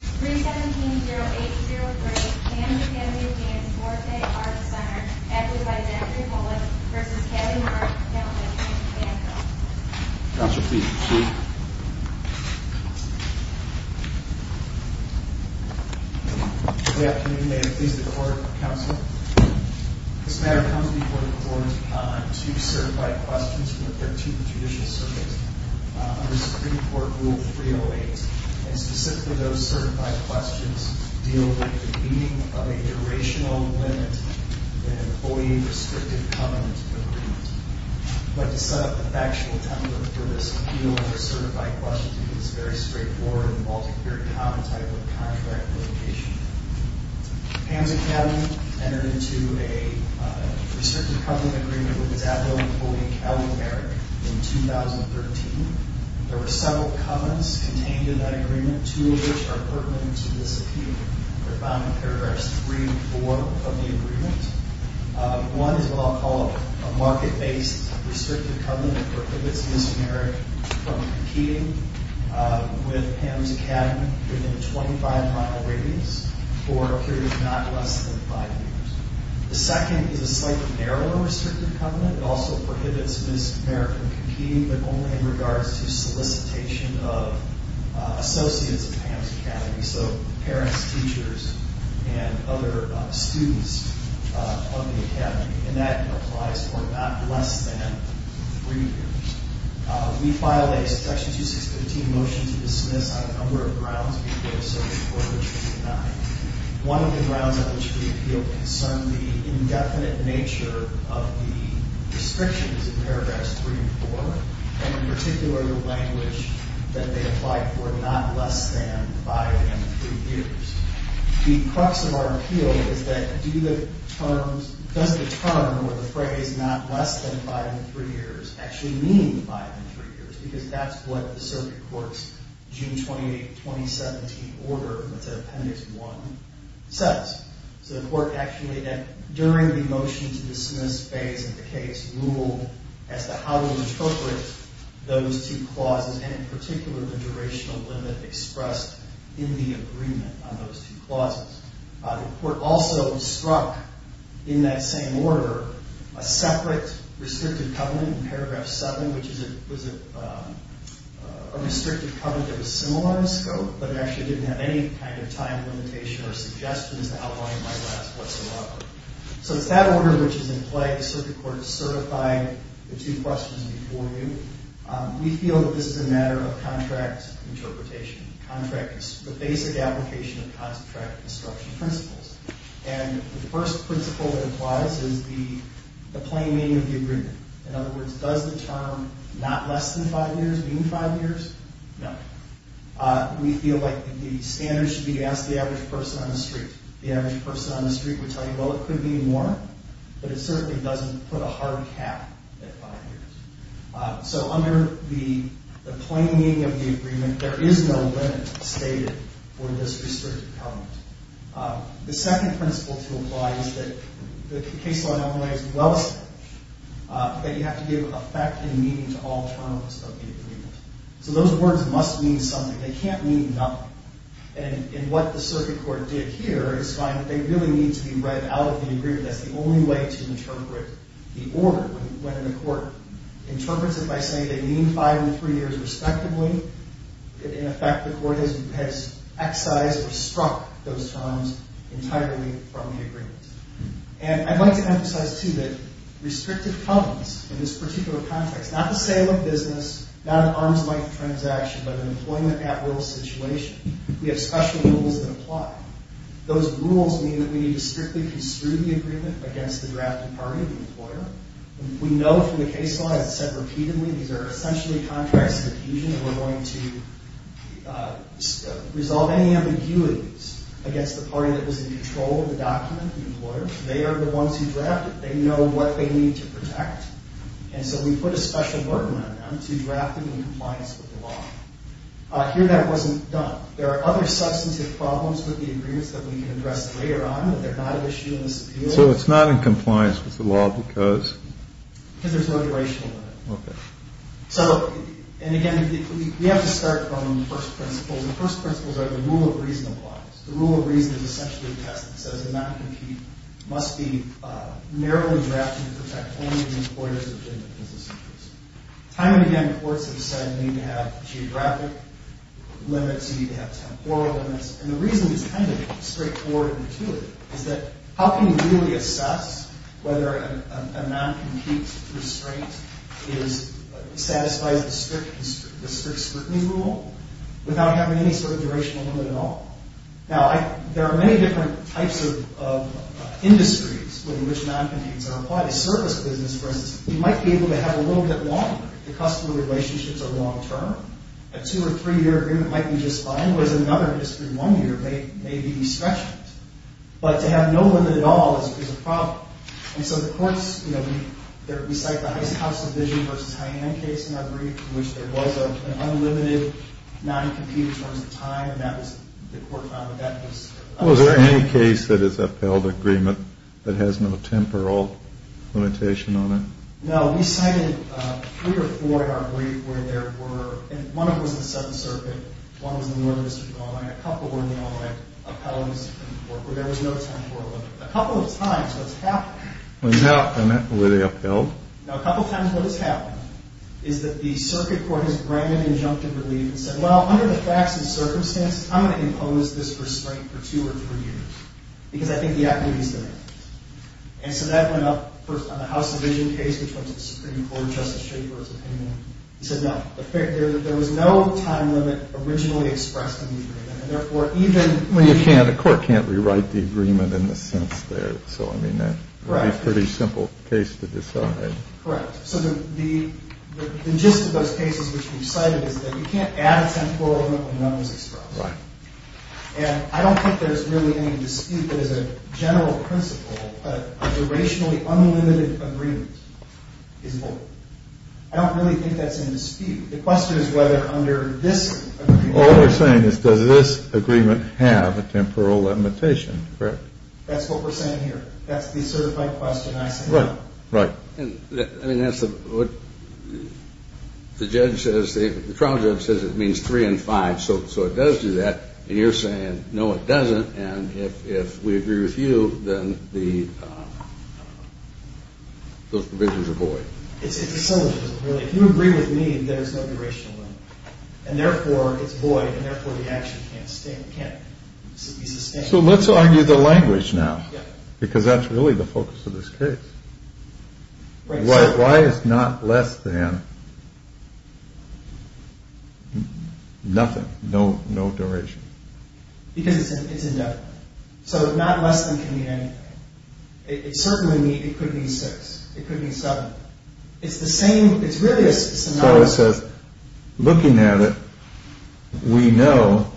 317-0803, Camden Academy of Dance, Forte Arts Center, acted by Zachary Bullock v. Kevin Mark, accountant at Camden Academy. Counselor, please proceed. Good afternoon, Mayor. Please record, Counselor. This matter comes before the Court to certify questions from the 13th Judicial Circuit under Supreme Court Rule 308. And specifically, those certified questions deal with the meaning of a durational limit in an employee-restricted covenant agreement. But to set up the factual template for this appeal under certified questions is very straightforward and involves a very common type of contract litigation. Camden Academy entered into a restricted covenant agreement with its adult employee, Callie Marik, in 2013. There were several covenants contained in that agreement, two of which are pertinent to this appeal. They're found in paragraphs 3 and 4 of the agreement. One is what I'll call a market-based restricted covenant that prohibits Ms. Marik from competing with Pam's Academy within a 25-mile radius for a period of not less than five years. The second is a slightly narrower restricted covenant that also prohibits Ms. Marik from competing but only in regards to solicitation of associates of Pam's Academy, so parents, teachers, and other students of the Academy. And that applies for not less than three years. We filed a Section 2615 motion to dismiss on a number of grounds before the Supreme Court was denied. One of the grounds on which the appeal concerned the indefinite nature of the restrictions in paragraphs 3 and 4, and in particular the language that they applied for not less than five and three years. The crux of our appeal is that does the term or the phrase not less than five and three years actually mean five and three years? Because that's what the circuit court's June 28, 2017 order, which is Appendix 1, says. So the court actually, during the motion to dismiss phase of the case, ruled as to how to interpret those two clauses, and in particular the durational limit expressed in the agreement on those two clauses. The court also struck in that same order a separate restricted covenant in paragraph 7, which was a restricted covenant that was similar in scope, but it actually didn't have any kind of time limitation or suggestions to outline it whatsoever. So it's that order which is in play. The circuit court has certified the two questions before you. We feel that this is a matter of contract interpretation, the basic application of contract instruction principles. And the first principle that applies is the plain meaning of the agreement. In other words, does the term not less than five years mean five years? No. We feel like the standard should be to ask the average person on the street. The average person on the street would tell you, well, it could be more, but it certainly doesn't put a hard cap at five years. So under the plain meaning of the agreement, there is no limit stated for this restricted covenant. The second principle to apply is that the case law now lays well established that you have to give effect and meaning to all terms of the agreement. So those words must mean something. They can't mean nothing. And what the circuit court did here is find that they really need to be read out of the agreement. That's the only way to interpret the order. When the court interprets it by saying they mean five and three years respectively, in effect, the court has excised or struck those terms entirely from the agreement. And I'd like to emphasize, too, that restricted covenants in this particular context, not the sale of business, not an arms-length transaction, but an employment at-will situation, we have special rules that apply. Those rules mean that we need to strictly construe the agreement against the drafted party, the employer. We know from the case law, as I've said repeatedly, these are essentially contracts of adhesion, and we're going to resolve any ambiguities against the party that was in control of the document, the employer. They are the ones who drafted it. They know what they need to protect. And so we put a special burden on them to draft it in compliance with the law. Here, that wasn't done. There are other substantive problems with the agreements that we can address later on, but they're not an issue in this appeal. So it's not in compliance with the law because? Because there's no duration limit. Okay. So, and again, we have to start from the first principles, and the first principles are the rule of reason applies. The rule of reason is essentially the test that says a non-compete must be narrowly drafted to protect only the employers within the business interest. Time and again, courts have said you need to have geographic limits, you need to have temporal limits, and the reason it's kind of straightforward and intuitive is that how can you really assess whether a non-compete restraint satisfies the strict scrutiny rule without having any sort of durational limit at all? Now, there are many different types of industries within which non-competes are applied. A service business, for instance, you might be able to have a little bit longer. The customer relationships are long-term. A two- or three-year agreement might be just fine, whereas another industry, one year, may be stretched. But to have no limit at all is a problem. And so the courts, you know, we cite the House Division v. Hyann case in our brief, in which there was an unlimited non-compete in terms of time, and that was the court found that that was upheld. Well, is there any case that is upheld agreement that has no temporal limitation on it? No. We cited three or four in our brief where there were, and one of them was the Seventh Circuit, one was in the Northern District of Illinois, and a couple were in the Illinois appellant's work where there was no temporal limit. A couple of times, what's happened is that the circuit court has granted injunctive relief and said, well, under the facts and circumstances, I'm going to impose this restraint for two or three years because I think the activity is there. And so that went up first on the House Division case, which was the Supreme Court Justice Schaefer's opinion. He said, no, there was no time limit originally expressed in the agreement. And therefore, even when you can't, a court can't rewrite the agreement in the sense there. So, I mean, that would be a pretty simple case to decide. Correct. So the gist of those cases which we've cited is that you can't add a temporal limit when none is expressed. Right. And I don't think there's really any dispute that as a general principle, a durationally unlimited agreement is valid. I don't really think that's in dispute. The question is whether under this agreement. Well, what we're saying is does this agreement have a temporal limitation, correct? That's what we're saying here. That's the certified question I said. Right. I mean, that's what the judge says. The trial judge says it means three and five. So it does do that. And you're saying, no, it doesn't. And if we agree with you, then those provisions are void. It's a syllogism, really. If you agree with me, then there's no duration limit. And therefore, it's void. And therefore, the action can't be sustained. So let's argue the language now. Yeah. Because that's really the focus of this case. Why is not less than nothing, no duration? Because it's indefinite. So not less than can mean anything. It certainly could mean six. It could mean seven. It's the same. It's really a synonym. Looking at it, we know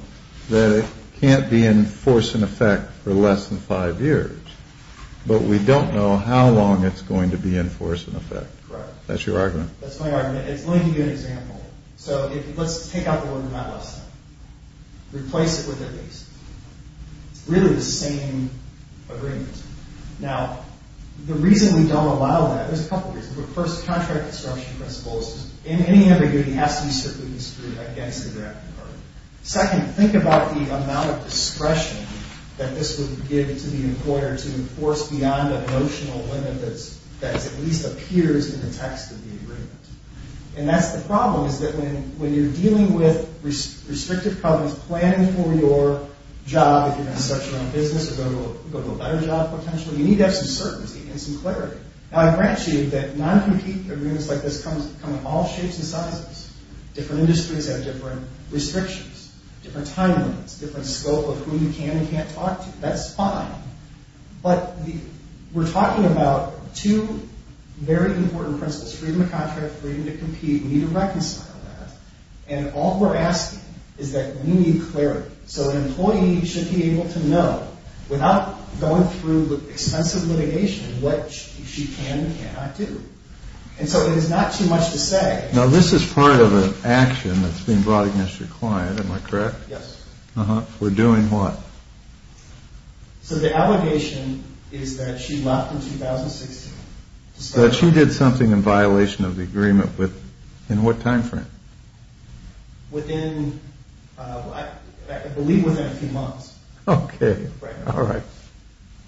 that it can't be in force and effect for less than five years. But we don't know how long it's going to be in force and effect. That's your argument. That's my argument. Let me give you an example. So let's take out the word not less than. Replace it with at least. It's really the same agreement. Now, the reason we don't allow that, there's a couple reasons. First, contract disruption principles. In any ambiguity, it has to be strictly construed against the draft agreement. Second, think about the amount of discretion that this would give to the employer to enforce beyond the emotional limit that at least appears in the text of the agreement. And that's the problem, is that when you're dealing with restrictive problems, planning for your job, if you're going to start your own business or go to a better job, potentially, you need to have some certainty and some clarity. Now, I grant you that non-compete agreements like this come in all shapes and sizes. Different industries have different restrictions, different time limits, different scope of who you can and can't talk to. That's fine. But we're talking about two very important principles, freedom of contract, freedom to compete. We need to reconcile that. And all we're asking is that we need clarity. So an employee should be able to know, without going through extensive litigation, what she can and cannot do. And so it is not too much to say. Now, this is part of an action that's being brought against your client, am I correct? Yes. We're doing what? So the allegation is that she left in 2016. That she did something in violation of the agreement with, in what time frame? Within, I believe, within a few months. Okay. Right now. All right.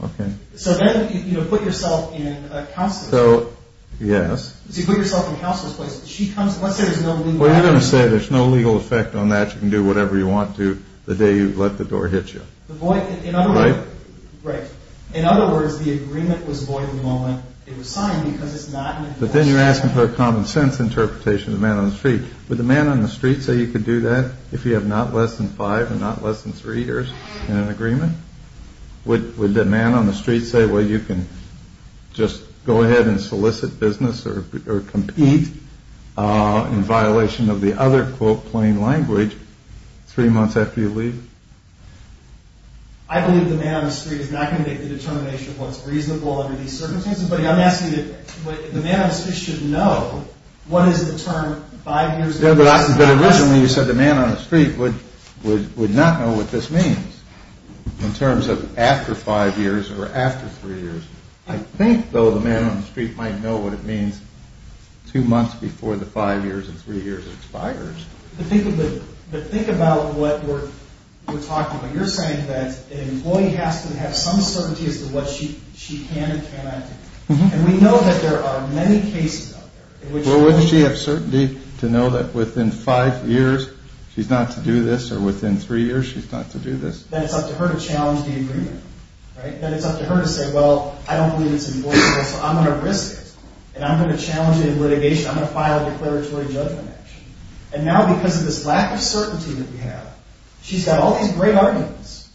Okay. So then you put yourself in a counselor's place. Yes. So you put yourself in a counselor's place. Let's say there's no legal effect on that. Well, you're going to say there's no legal effect on that. You can do whatever you want to the day you let the door hit you. Right? Right. In other words, the agreement was void the moment it was signed because it's not an enforcement action. I have a common sense interpretation of the man on the street. Would the man on the street say you could do that if you have not less than five and not less than three years in an agreement? Would the man on the street say, well, you can just go ahead and solicit business or compete in violation of the other, quote, plain language three months after you leave? I believe the man on the street is not going to make the determination of what's reasonable under these circumstances. I'm asking that the man on the street should know what is the term five years. But originally you said the man on the street would not know what this means in terms of after five years or after three years. I think, though, the man on the street might know what it means two months before the five years and three years expires. But think about what we're talking about. You're saying that an employee has to have some certainty as to what she can and cannot do. And we know that there are many cases out there. Well, wouldn't she have certainty to know that within five years she's not to do this or within three years she's not to do this? Then it's up to her to challenge the agreement, right? Then it's up to her to say, well, I don't believe it's enforceable, so I'm going to risk it. And I'm going to challenge it in litigation. I'm going to file a declaratory judgment action. And now because of this lack of certainty that we have, she's got all these great arguments,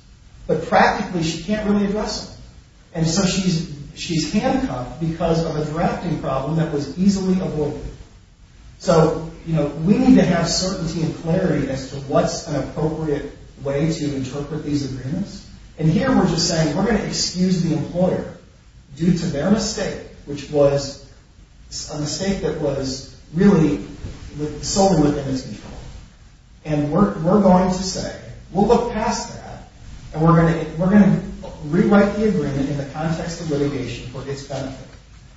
but practically she can't really address them. And so she's handcuffed because of a drafting problem that was easily avoided. So we need to have certainty and clarity as to what's an appropriate way to interpret these agreements. And here we're just saying we're going to excuse the employer due to their mistake, which was a mistake that was really solely within its control. And we're going to say, we'll look past that, and we're going to rewrite the agreement in the context of litigation for its benefit.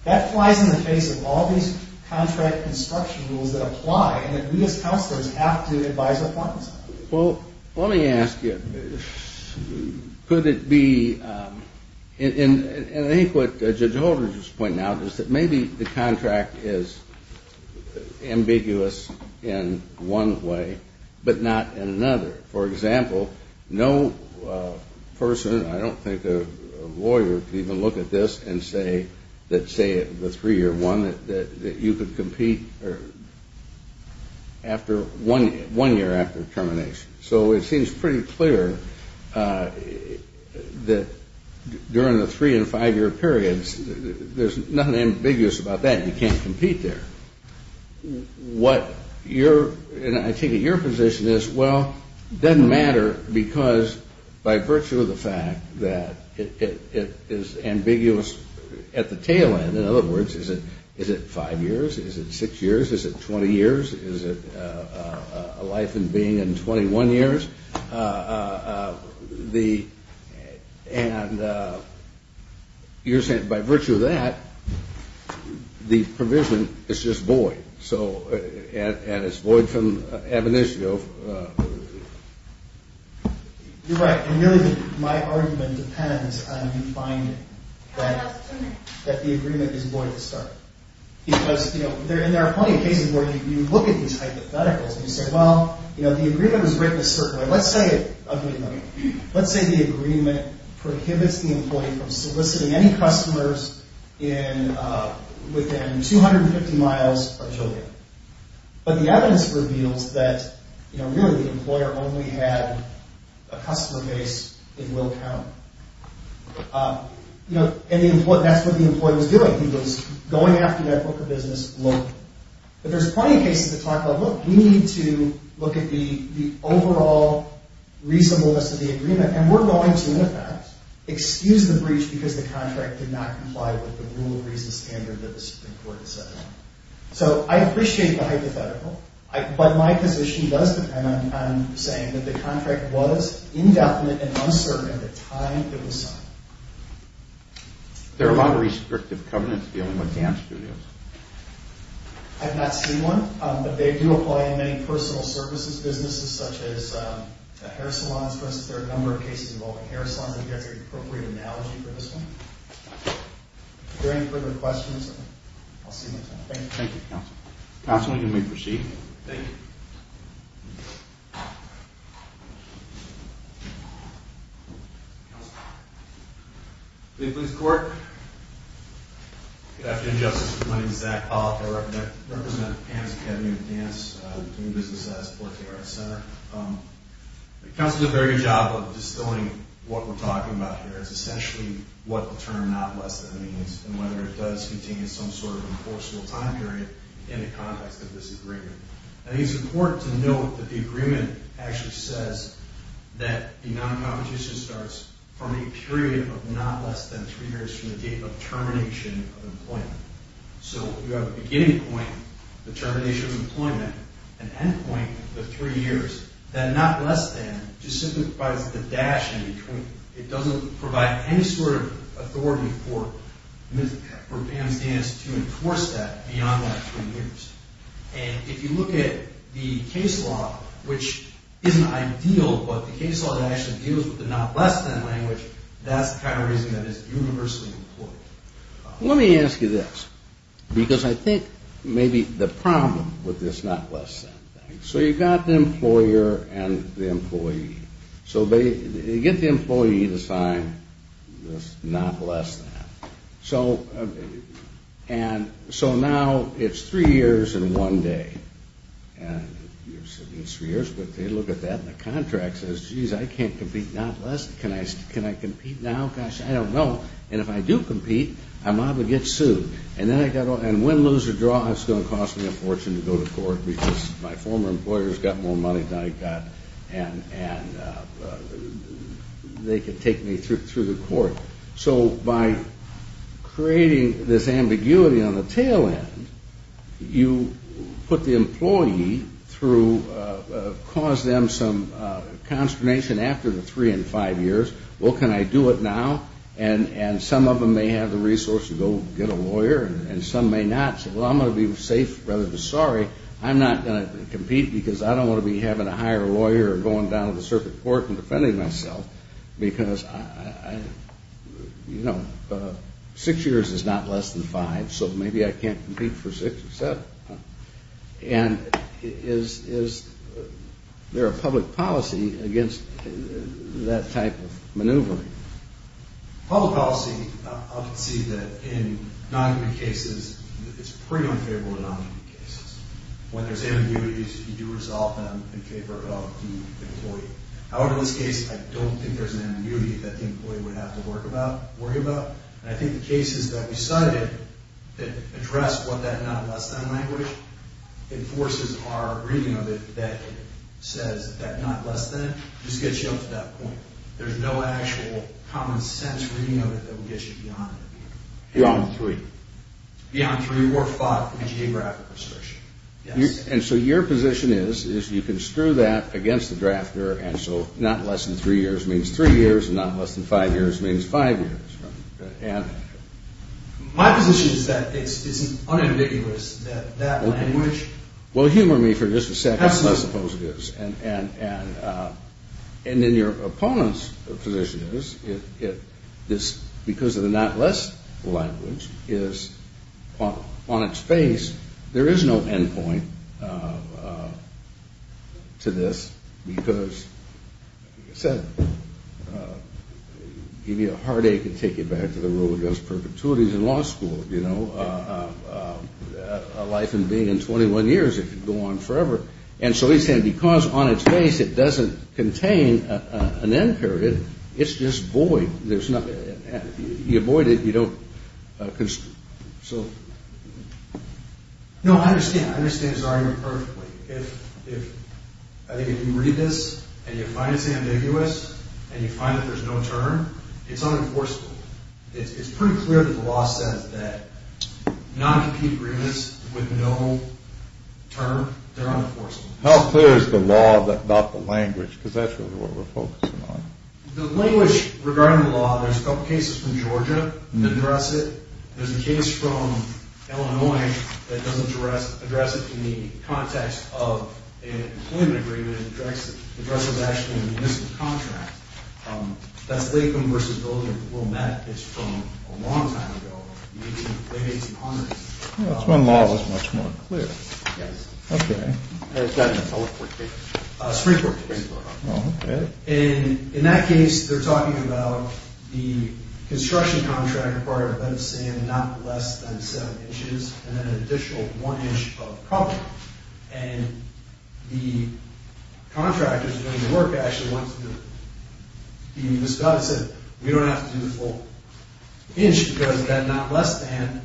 That flies in the face of all these contract construction rules that apply and that we as counselors have to advise our clients on. Well, let me ask you, could it be, and I think what Judge Holder just pointed out, is that maybe the contract is ambiguous in one way but not in another. For example, no person, I don't think a lawyer, could even look at this and say that, say, the three-year one, that you could compete after one year after termination. So it seems pretty clear that during the three- and five-year periods, there's nothing ambiguous about that, you can't compete there. What your, and I take it your position is, well, it doesn't matter because by virtue of the fact that it is ambiguous at the tail end, in other words, is it five years, is it six years, is it 20 years, is it a life and being in 21 years? And you're saying by virtue of that, the provision is just void. So, and it's void from ab initio. You're right, and really my argument depends on how you find that the agreement is void at the start. Because there are plenty of cases where you look at these hypotheticals and you say, well, the agreement was written a certain way. Let's say the agreement prohibits the employee from soliciting any customers within 250 miles of Tokyo. But the evidence reveals that really the employer only had a customer base in Will County. And that's what the employee was doing. He was going after that book of business locally. But there's plenty of cases that talk about, look, we need to look at the overall reasonableness of the agreement, and we're going to, in effect, excuse the breach because the contract did not comply with the rule of reason standard that the Supreme Court has set out. So I appreciate the hypothetical, but my position does depend on saying that the contract was indefinite and uncertain at the time it was signed. There are a lot of restrictive covenants dealing with dance studios. I've not seen one, but they do apply in many personal services businesses such as hair salons. There are a number of cases involving hair salons. I think that's an appropriate analogy for this one. If there are any further questions, I'll see you next time. Thank you. Thank you, Counselor. Counselor, you may proceed. Thank you. Please court. Good afternoon, Justice. My name is Zach Pollock. I represent the Panasonic Academy of Dance, a new business that I support here at our center. Counselor did a very good job of distilling what we're talking about here. It's essentially what the term not less than means and whether it does contain some sort of enforceable time period in the context of this agreement. I think it's important to note that the agreement actually says that the non-competition starts from a period of not less than three years from the date of termination of employment. So you have a beginning point, the termination of employment, an end point, the three years. That not less than just simplifies the dash in between. It doesn't provide any sort of authority for Pan's Dance to enforce that beyond that three years. And if you look at the case law, which isn't ideal, but the case law that actually deals with the not less than language, that's the kind of reason that it's universally employed. Let me ask you this, because I think maybe the problem with this not less than thing, so you've got the employer and the employee. So you get the employee to sign this not less than. And so now it's three years in one day. It's three years, but they look at that and the contract says, geez, I can't compete not less than, can I compete now? Gosh, I don't know. And if I do compete, I'm liable to get sued. And win, lose, or draw, it's going to cost me a fortune to go to court because my former employers got more money than I got and they could take me through the court. So by creating this ambiguity on the tail end, you put the employee through, cause them some consternation after the three and five years. Well, can I do it now? And some of them may have the resource to go get a lawyer and some may not. So I'm going to be safe rather than sorry. I'm not going to compete because I don't want to be having a higher lawyer or going down to the circuit court and defending myself because, you know, six years is not less than five, so maybe I can't compete for six or seven. And is there a public policy against that type of maneuvering? Public policy, I'll concede that in non-competent cases, it's pretty unfavorable in non-competent cases. When there's ambiguities, you do resolve them in favor of the employee. However, in this case, I don't think there's an ambiguity that the employee would have to worry about. And I think the cases that we cited that address what that not less than language enforces are a reading of it that says that not less than just gets you up to that point. There's no actual common sense reading of it that would get you beyond it. Beyond three. Beyond three or five would be geographic restriction, yes. And so your position is, is you can screw that against the drafter, and so not less than three years means three years, and not less than five years means five years. And my position is that it's unambiguous that that language has to be. Well, humor me for just a second. I suppose it is. And then your opponent's position is, because of the not less than language is on its face, there is no end point to this because, like I said, it would give you a heartache and take you back to the rule against perpetuities in law school. You know, a life and being in 21 years, it could go on forever. And so he's saying because on its face it doesn't contain an end period, it's just void. You avoid it. You don't. So. No, I understand. I understand his argument perfectly. If you read this and you find it's ambiguous and you find that there's no term, it's unenforceable. It's pretty clear that the law says that non-compete agreements with no term, they're unenforceable. How clear is the law about the language? Because that's really what we're focusing on. The language regarding the law, there's a couple cases from Georgia that address it. There's a case from Illinois that doesn't address it in the context of an employment agreement. It addresses it actually in a municipal contract. That's Latham v. Wilmette. It's from a long time ago. The late 1800s. That's when law was much more clear. Yes. Okay. And it's got an appellate court case. Supreme Court case. Okay. And in that case, they're talking about the construction contract required a bed of sand not less than seven inches and then an additional one inch of cover. And the contractors doing the work actually wants to be discussed. They said, we don't have to do the full inch because the bed not less than,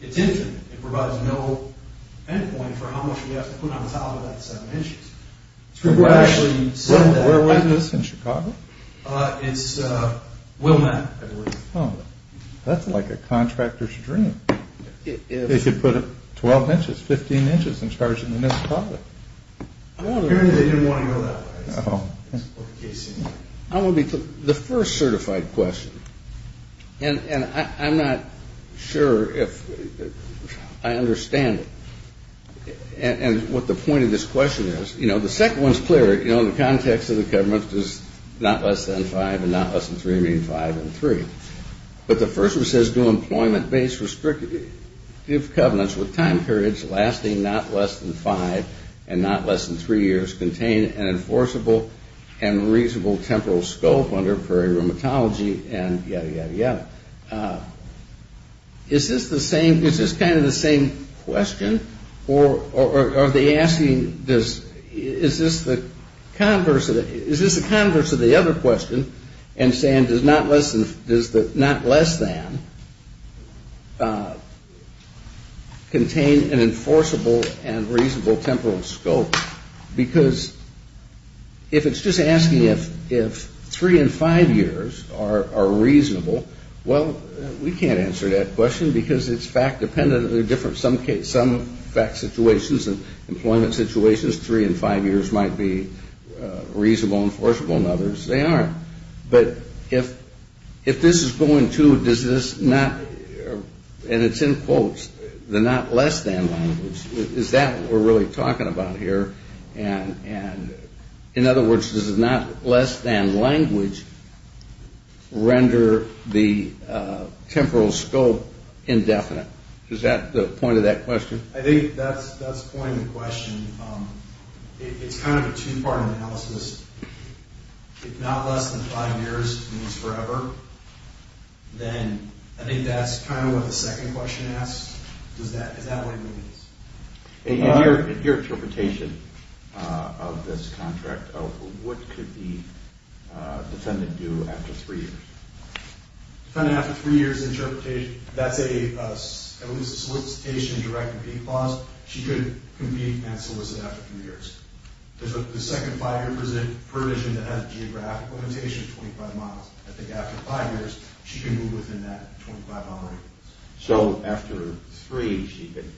it's infinite. It provides no end point for how much we have to put on top of that seven inches. Supreme Court actually said that. Where was this? In Chicago? It's Wilmette, I believe. Oh, that's like a contractor's dream. They could put 12 inches, 15 inches and charge it in the municipality. Apparently they didn't want to go that way. The first certified question, and I'm not sure if I understand it, and what the point of this question is. You know, the second one is clear. You know, in the context of the government, does not less than five and not less than three mean five and three? But the first one says do employment-based restrictive covenants with time periods lasting not less than five and not less than three years contain an enforceable and reasonable temporal scope under prairie rheumatology and yada, yada, yada. Is this the same, is this kind of the same question or are they asking, is this the converse of the other question and saying does not less than contain an enforceable and reasonable temporal scope? Because if it's just asking if three and five years are reasonable, well, we can't answer that question because it's fact-dependent and they're different. Some fact situations and employment situations, three and five years might be reasonable and enforceable and others they aren't. But if this is going to, does this not, and it's in quotes, the not less than language, is that what we're really talking about here? And in other words, does the not less than language render the temporal scope indefinite? Is that the point of that question? I think that's pointing the question. It's kind of a two-part analysis. If not less than five years means forever, then I think that's kind of what the second question asks. Does that, is that what it means? In your interpretation of this contract, what could the defendant do after three years? Defendant, after three years of interpretation, that's at least a solicitation and direct compete clause. She could compete and solicit after three years. The second five-year provision that has a geographic limitation of 25 miles, I think after five years, she can move within that 25-mile radius. So after three, she could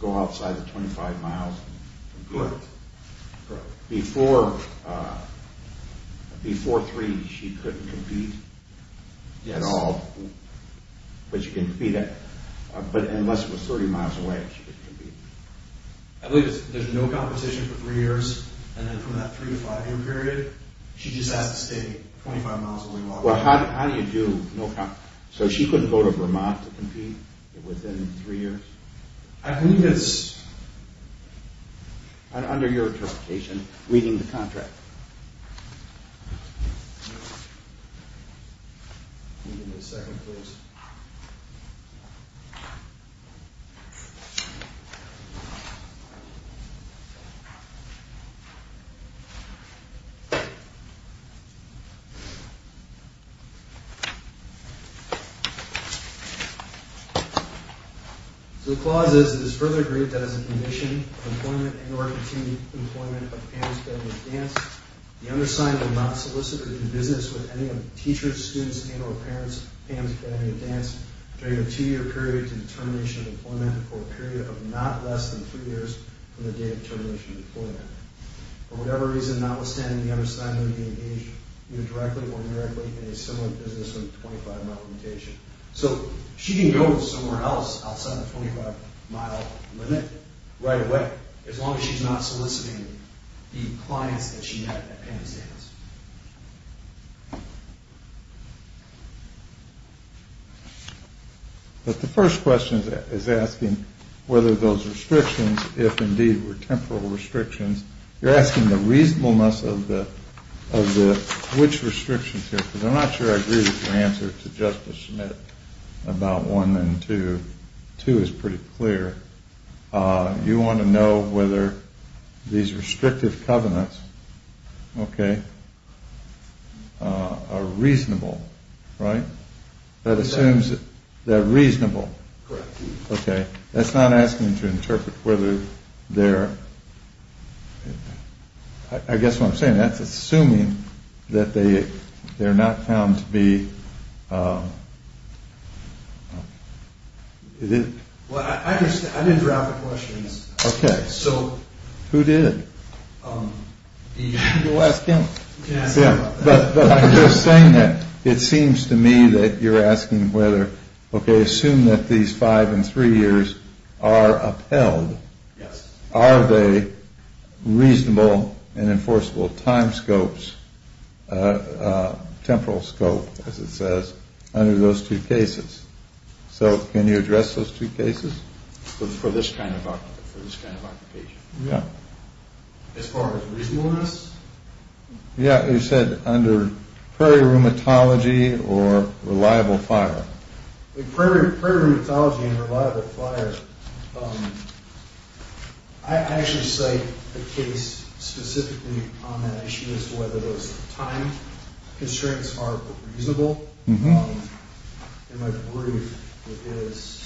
go outside the 25 miles and compete? Correct. Before three, she couldn't compete at all? Yes. But she can compete at, but unless it was 30 miles away, she couldn't compete? I believe there's no competition for three years, and then from that three- to five-year period, she just has to stay 25 miles away while competing. Well, how do you do no competition? So she couldn't go to Vermont to compete within three years? I believe it's, under your interpretation, reading the contract. Give me a second, please. So the clause is, It is further agreed that as a condition of employment and or continued employment of Pam's family of dance, the undersigned will not solicit or do business with any of the teachers, students, and or parents of Pam's family of dance during a two-year period to the termination of employment, or a period of not less than three years from the date of termination of employment. For whatever reason, notwithstanding, the undersigned may be engaged either directly or indirectly in a similar business with a 25-mile location. So she can go somewhere else outside the 25-mile limit right away, as long as she's not soliciting the clients that she met at Pam's dance. But the first question is asking whether those restrictions, if indeed were temporal restrictions, you're asking the reasonableness of which restrictions here, because I'm not sure I agree with your answer to Justice Schmidt about one and two. Two is pretty clear. You want to know whether these restrictive covenants are reasonable, right? That assumes that they're reasonable. Correct. Okay. That's not asking to interpret whether they're, I guess what I'm saying, that's assuming that they're not found to be, is it? Well, I didn't draft the questions. Okay. So. You can go ask him. You can ask him about that. But I'm just saying that it seems to me that you're asking whether, okay, assume that these five and three years are upheld. Yes. Are they reasonable and enforceable time scopes, temporal scope, as it says, under those two cases? So can you address those two cases? For this kind of occupation. Yeah. As far as reasonableness? Yeah. You said under prairie rheumatology or reliable fire. Prairie rheumatology and reliable fire. I actually cite a case specifically on that issue as to whether those time constraints are reasonable. In my brief, it is.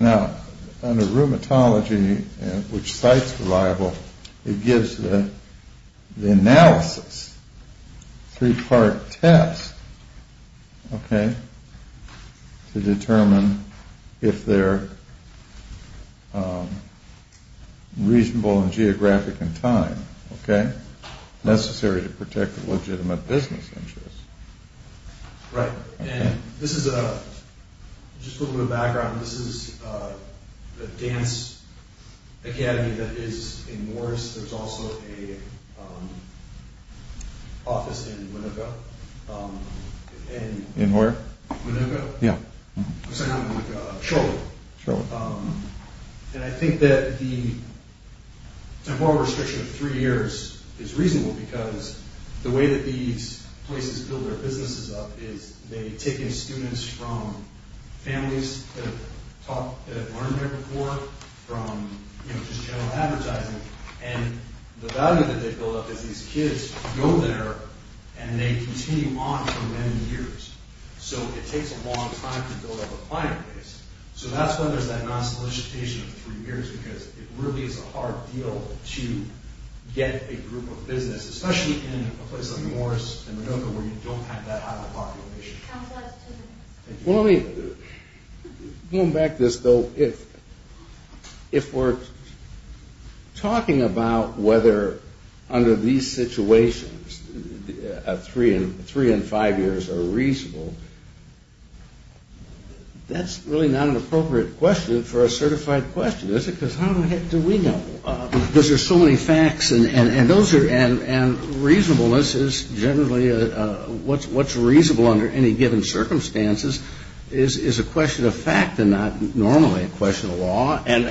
Now, under rheumatology, which sites reliable, it gives the analysis. Three part test. Okay. To determine if they're reasonable and geographic in time. Okay. Necessary to protect legitimate business interests. Right. And this is just a little background. This is a dance academy that is in Morris. There's also an office in Winnebago. Winnebago. Yeah. I'm sorry, not Winnebago. Charlotte. Charlotte. And I think that the temporal restriction of three years is reasonable because the way that these places build their businesses up is they take in students from families that have learned there before, from just general advertising, and the value that they build up is these kids go there and they continue on for many years. So it takes a long time to build up a client base. So that's why there's that non-solicitation of three years because it really is a hard deal to get a group of business, especially in a place like Morris and Winnebago where you don't have that high of a population. Well, let me go back to this, though. If we're talking about whether under these situations three and five years are reasonable, that's really not an appropriate question for a certified question, is it? Because how the heck do we know? Because there's so many facts, and reasonableness is generally what's reasonable under any given circumstances is a question of fact and not normally a question of law, and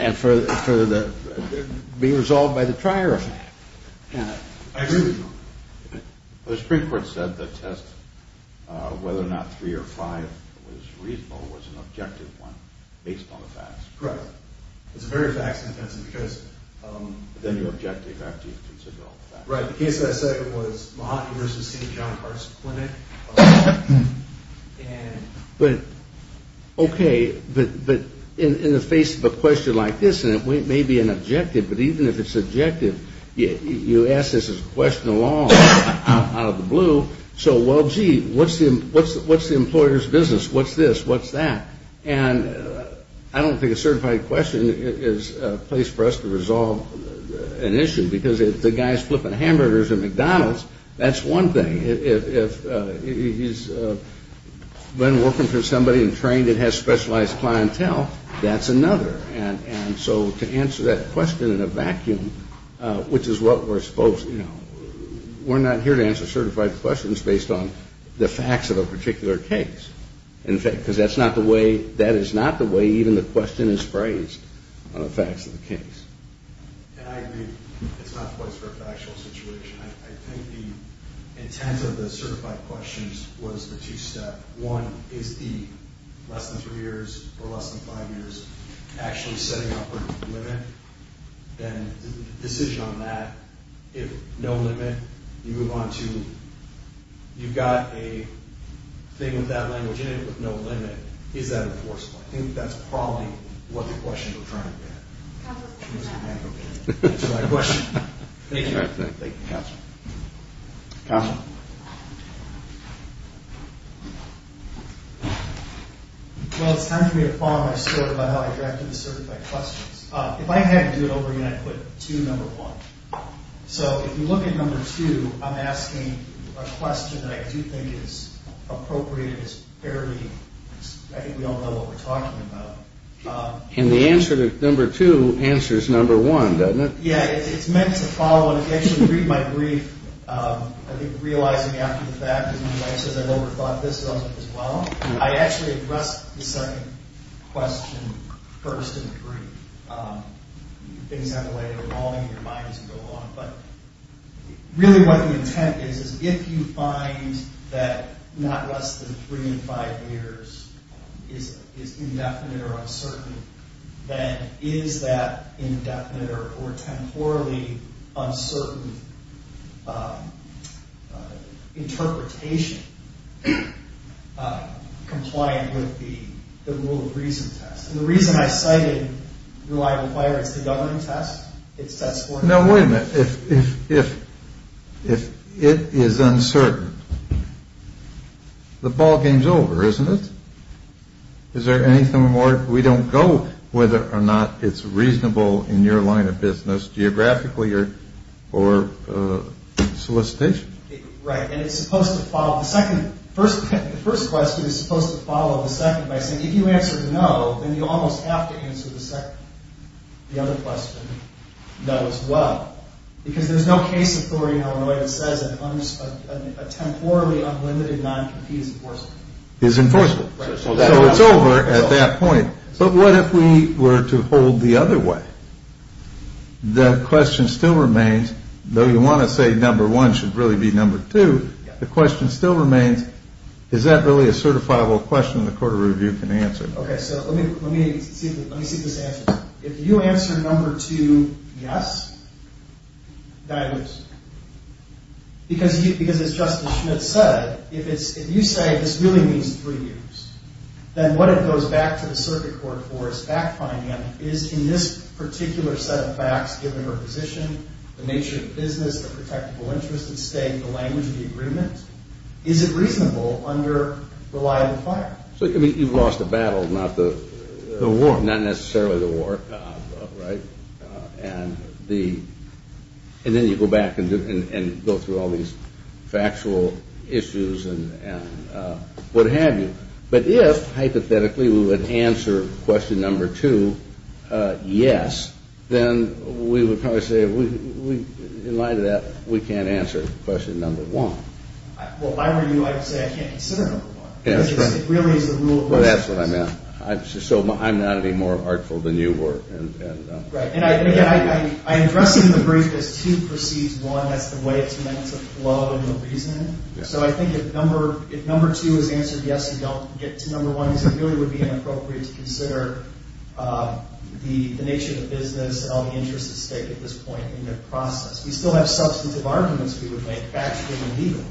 being resolved by the trier. I agree with you. The Supreme Court said the test whether or not three or five was reasonable was an objective one based on the facts. Correct. It's a very facts-intensive case. But then your objective after you've considered all the facts. Right. The case that I cited was Mahatma v. St. John Hearts Clinic. But, okay, but in the face of a question like this, and it may be an objective, but even if it's objective, you ask this as a question of law out of the blue. So, well, gee, what's the employer's business? What's this? What's that? And I don't think a certified question is a place for us to resolve an issue because if the guy's flipping hamburgers at McDonald's, that's one thing. If he's been working for somebody and trained and has specialized clientele, that's another. And so to answer that question in a vacuum, which is what we're supposed to do, we're not here to answer certified questions based on the facts of a particular case. Because that is not the way even the question is phrased on the facts of the case. And I agree. It's not the place for a factual situation. I think the intent of the certified questions was the two-step. One is the less than three years or less than five years actually setting up a limit. And the decision on that, if no limit, you move on to you've got a thing with that language in it with no limit. Is that enforceable? I think that's probably what the question we're trying to get. Answer my question. Thank you. Thank you, Counselor. Counselor? Well, it's time for me to follow my story about how I drafted the certified questions. If I had to do it over again, I'd put two, number one. So if you look at number two, I'm asking a question that I do think is appropriate. It's fairly, I think we all know what we're talking about. And the answer to number two answers number one, doesn't it? Yeah, it's meant to follow. And if you actually read my brief, I think realizing after the fact, as my wife says, I've overthought this as well. I actually addressed the second question first in the brief. Things have a way of evolving. Your mind doesn't go along. But really what the intent is, is if you find that not less than three in five years is indefinite or uncertain, then is that indefinite or temporally uncertain interpretation compliant with the rule of reason test? And the reason I cited reliable fire is the governing test. No, wait a minute. If it is uncertain, the ball game's over, isn't it? Is there anything more? We don't go whether or not it's reasonable in your line of business geographically or solicitation. Right. And it's supposed to follow. The first question is supposed to follow the second by saying if you answer no, then you almost have to answer the second, the other question, no as well. Because there's no case authority in Illinois that says a temporally unlimited non-competence enforcement. Is enforceable. So it's over at that point. But what if we were to hold the other way? The question still remains, though you want to say number one should really be number two, the question still remains, is that really a certifiable question the court of review can answer? Okay. So let me see if this answers. If you answer number two, yes, then I lose. Because as Justice Schmidt said, if you say this really means three years, then what it goes back to the circuit court for is fact-finding is in this particular set of facts, given her position, the nature of the business, the protectable interest at stake, the language of the agreement, is it reasonable under reliable fire? So you've lost the battle, not the war. Not necessarily the war, right? And then you go back and go through all these factual issues and what have you. But if, hypothetically, we would answer question number two, yes, then we would probably say in light of that we can't answer question number one. Well, if I were you, I would say I can't consider number one. It really is the rule of law. Well, that's what I meant. So I'm not any more artful than you were. And again, I'm addressing the brief as two precedes one. That's the way it's meant to flow in the reasoning. So I think if number two is answered yes and you don't get to number one, it really would be inappropriate to consider the nature of the business and all the interests at stake at this point in the process. We still have substantive arguments we would make, factually and legally,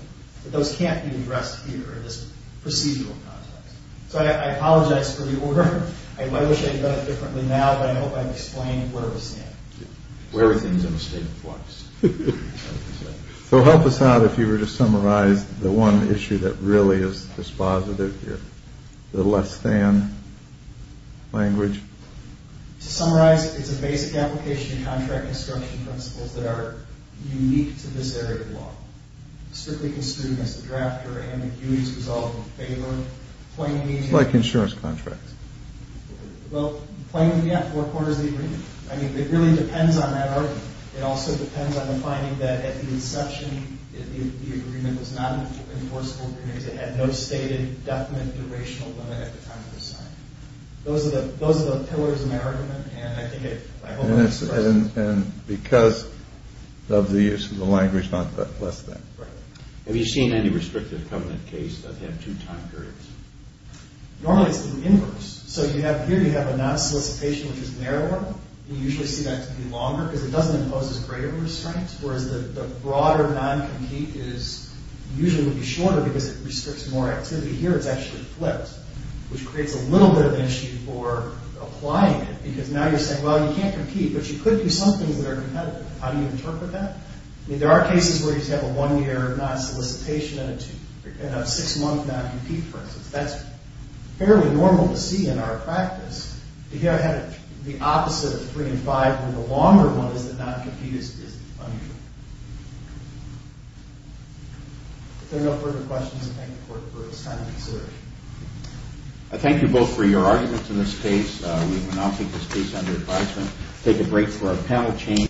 but those can't be addressed here in this procedural context. So I apologize for the order. I wish I had done it differently now, but I hope I've explained where we stand. Where everything's in a state of flux. So help us out if you were to summarize the one issue that really is dispositive here, the less than language. To summarize, it's a basic application of contract construction principles that are unique to this area of law. Strictly construed as the drafter and the due to resolve in favor, Like insurance contracts. Well, plainly at four quarters of the agreement. I mean, it really depends on that argument. It also depends on the finding that at the inception, the agreement was not an enforceable agreement because it had no stated definite durational limit at the time of assignment. Those are the pillars of my argument, and I think I hope I've expressed it. And because of the use of the language, not the less than. Have you seen any restrictive covenant case that had two time periods? Normally it's the inverse. So here you have a non-solicitation which is narrower. You usually see that to be longer because it doesn't impose as great of a restraint, whereas the broader non-compete usually would be shorter because it restricts more activity. Here it's actually flipped, which creates a little bit of an issue for applying it because now you're saying, well, you can't compete, but you could do some things that are competitive. How do you interpret that? I mean, there are cases where you just have a one-year non-solicitation and a six-month non-compete, for instance. That's fairly normal to see in our practice. Here I had the opposite of three and five, where the longer one is that non-compete is unusual. If there are no further questions, I thank the Court for its time and consideration. I thank you both for your arguments in this case. We will now keep this case under advisement, take a break for our panel change.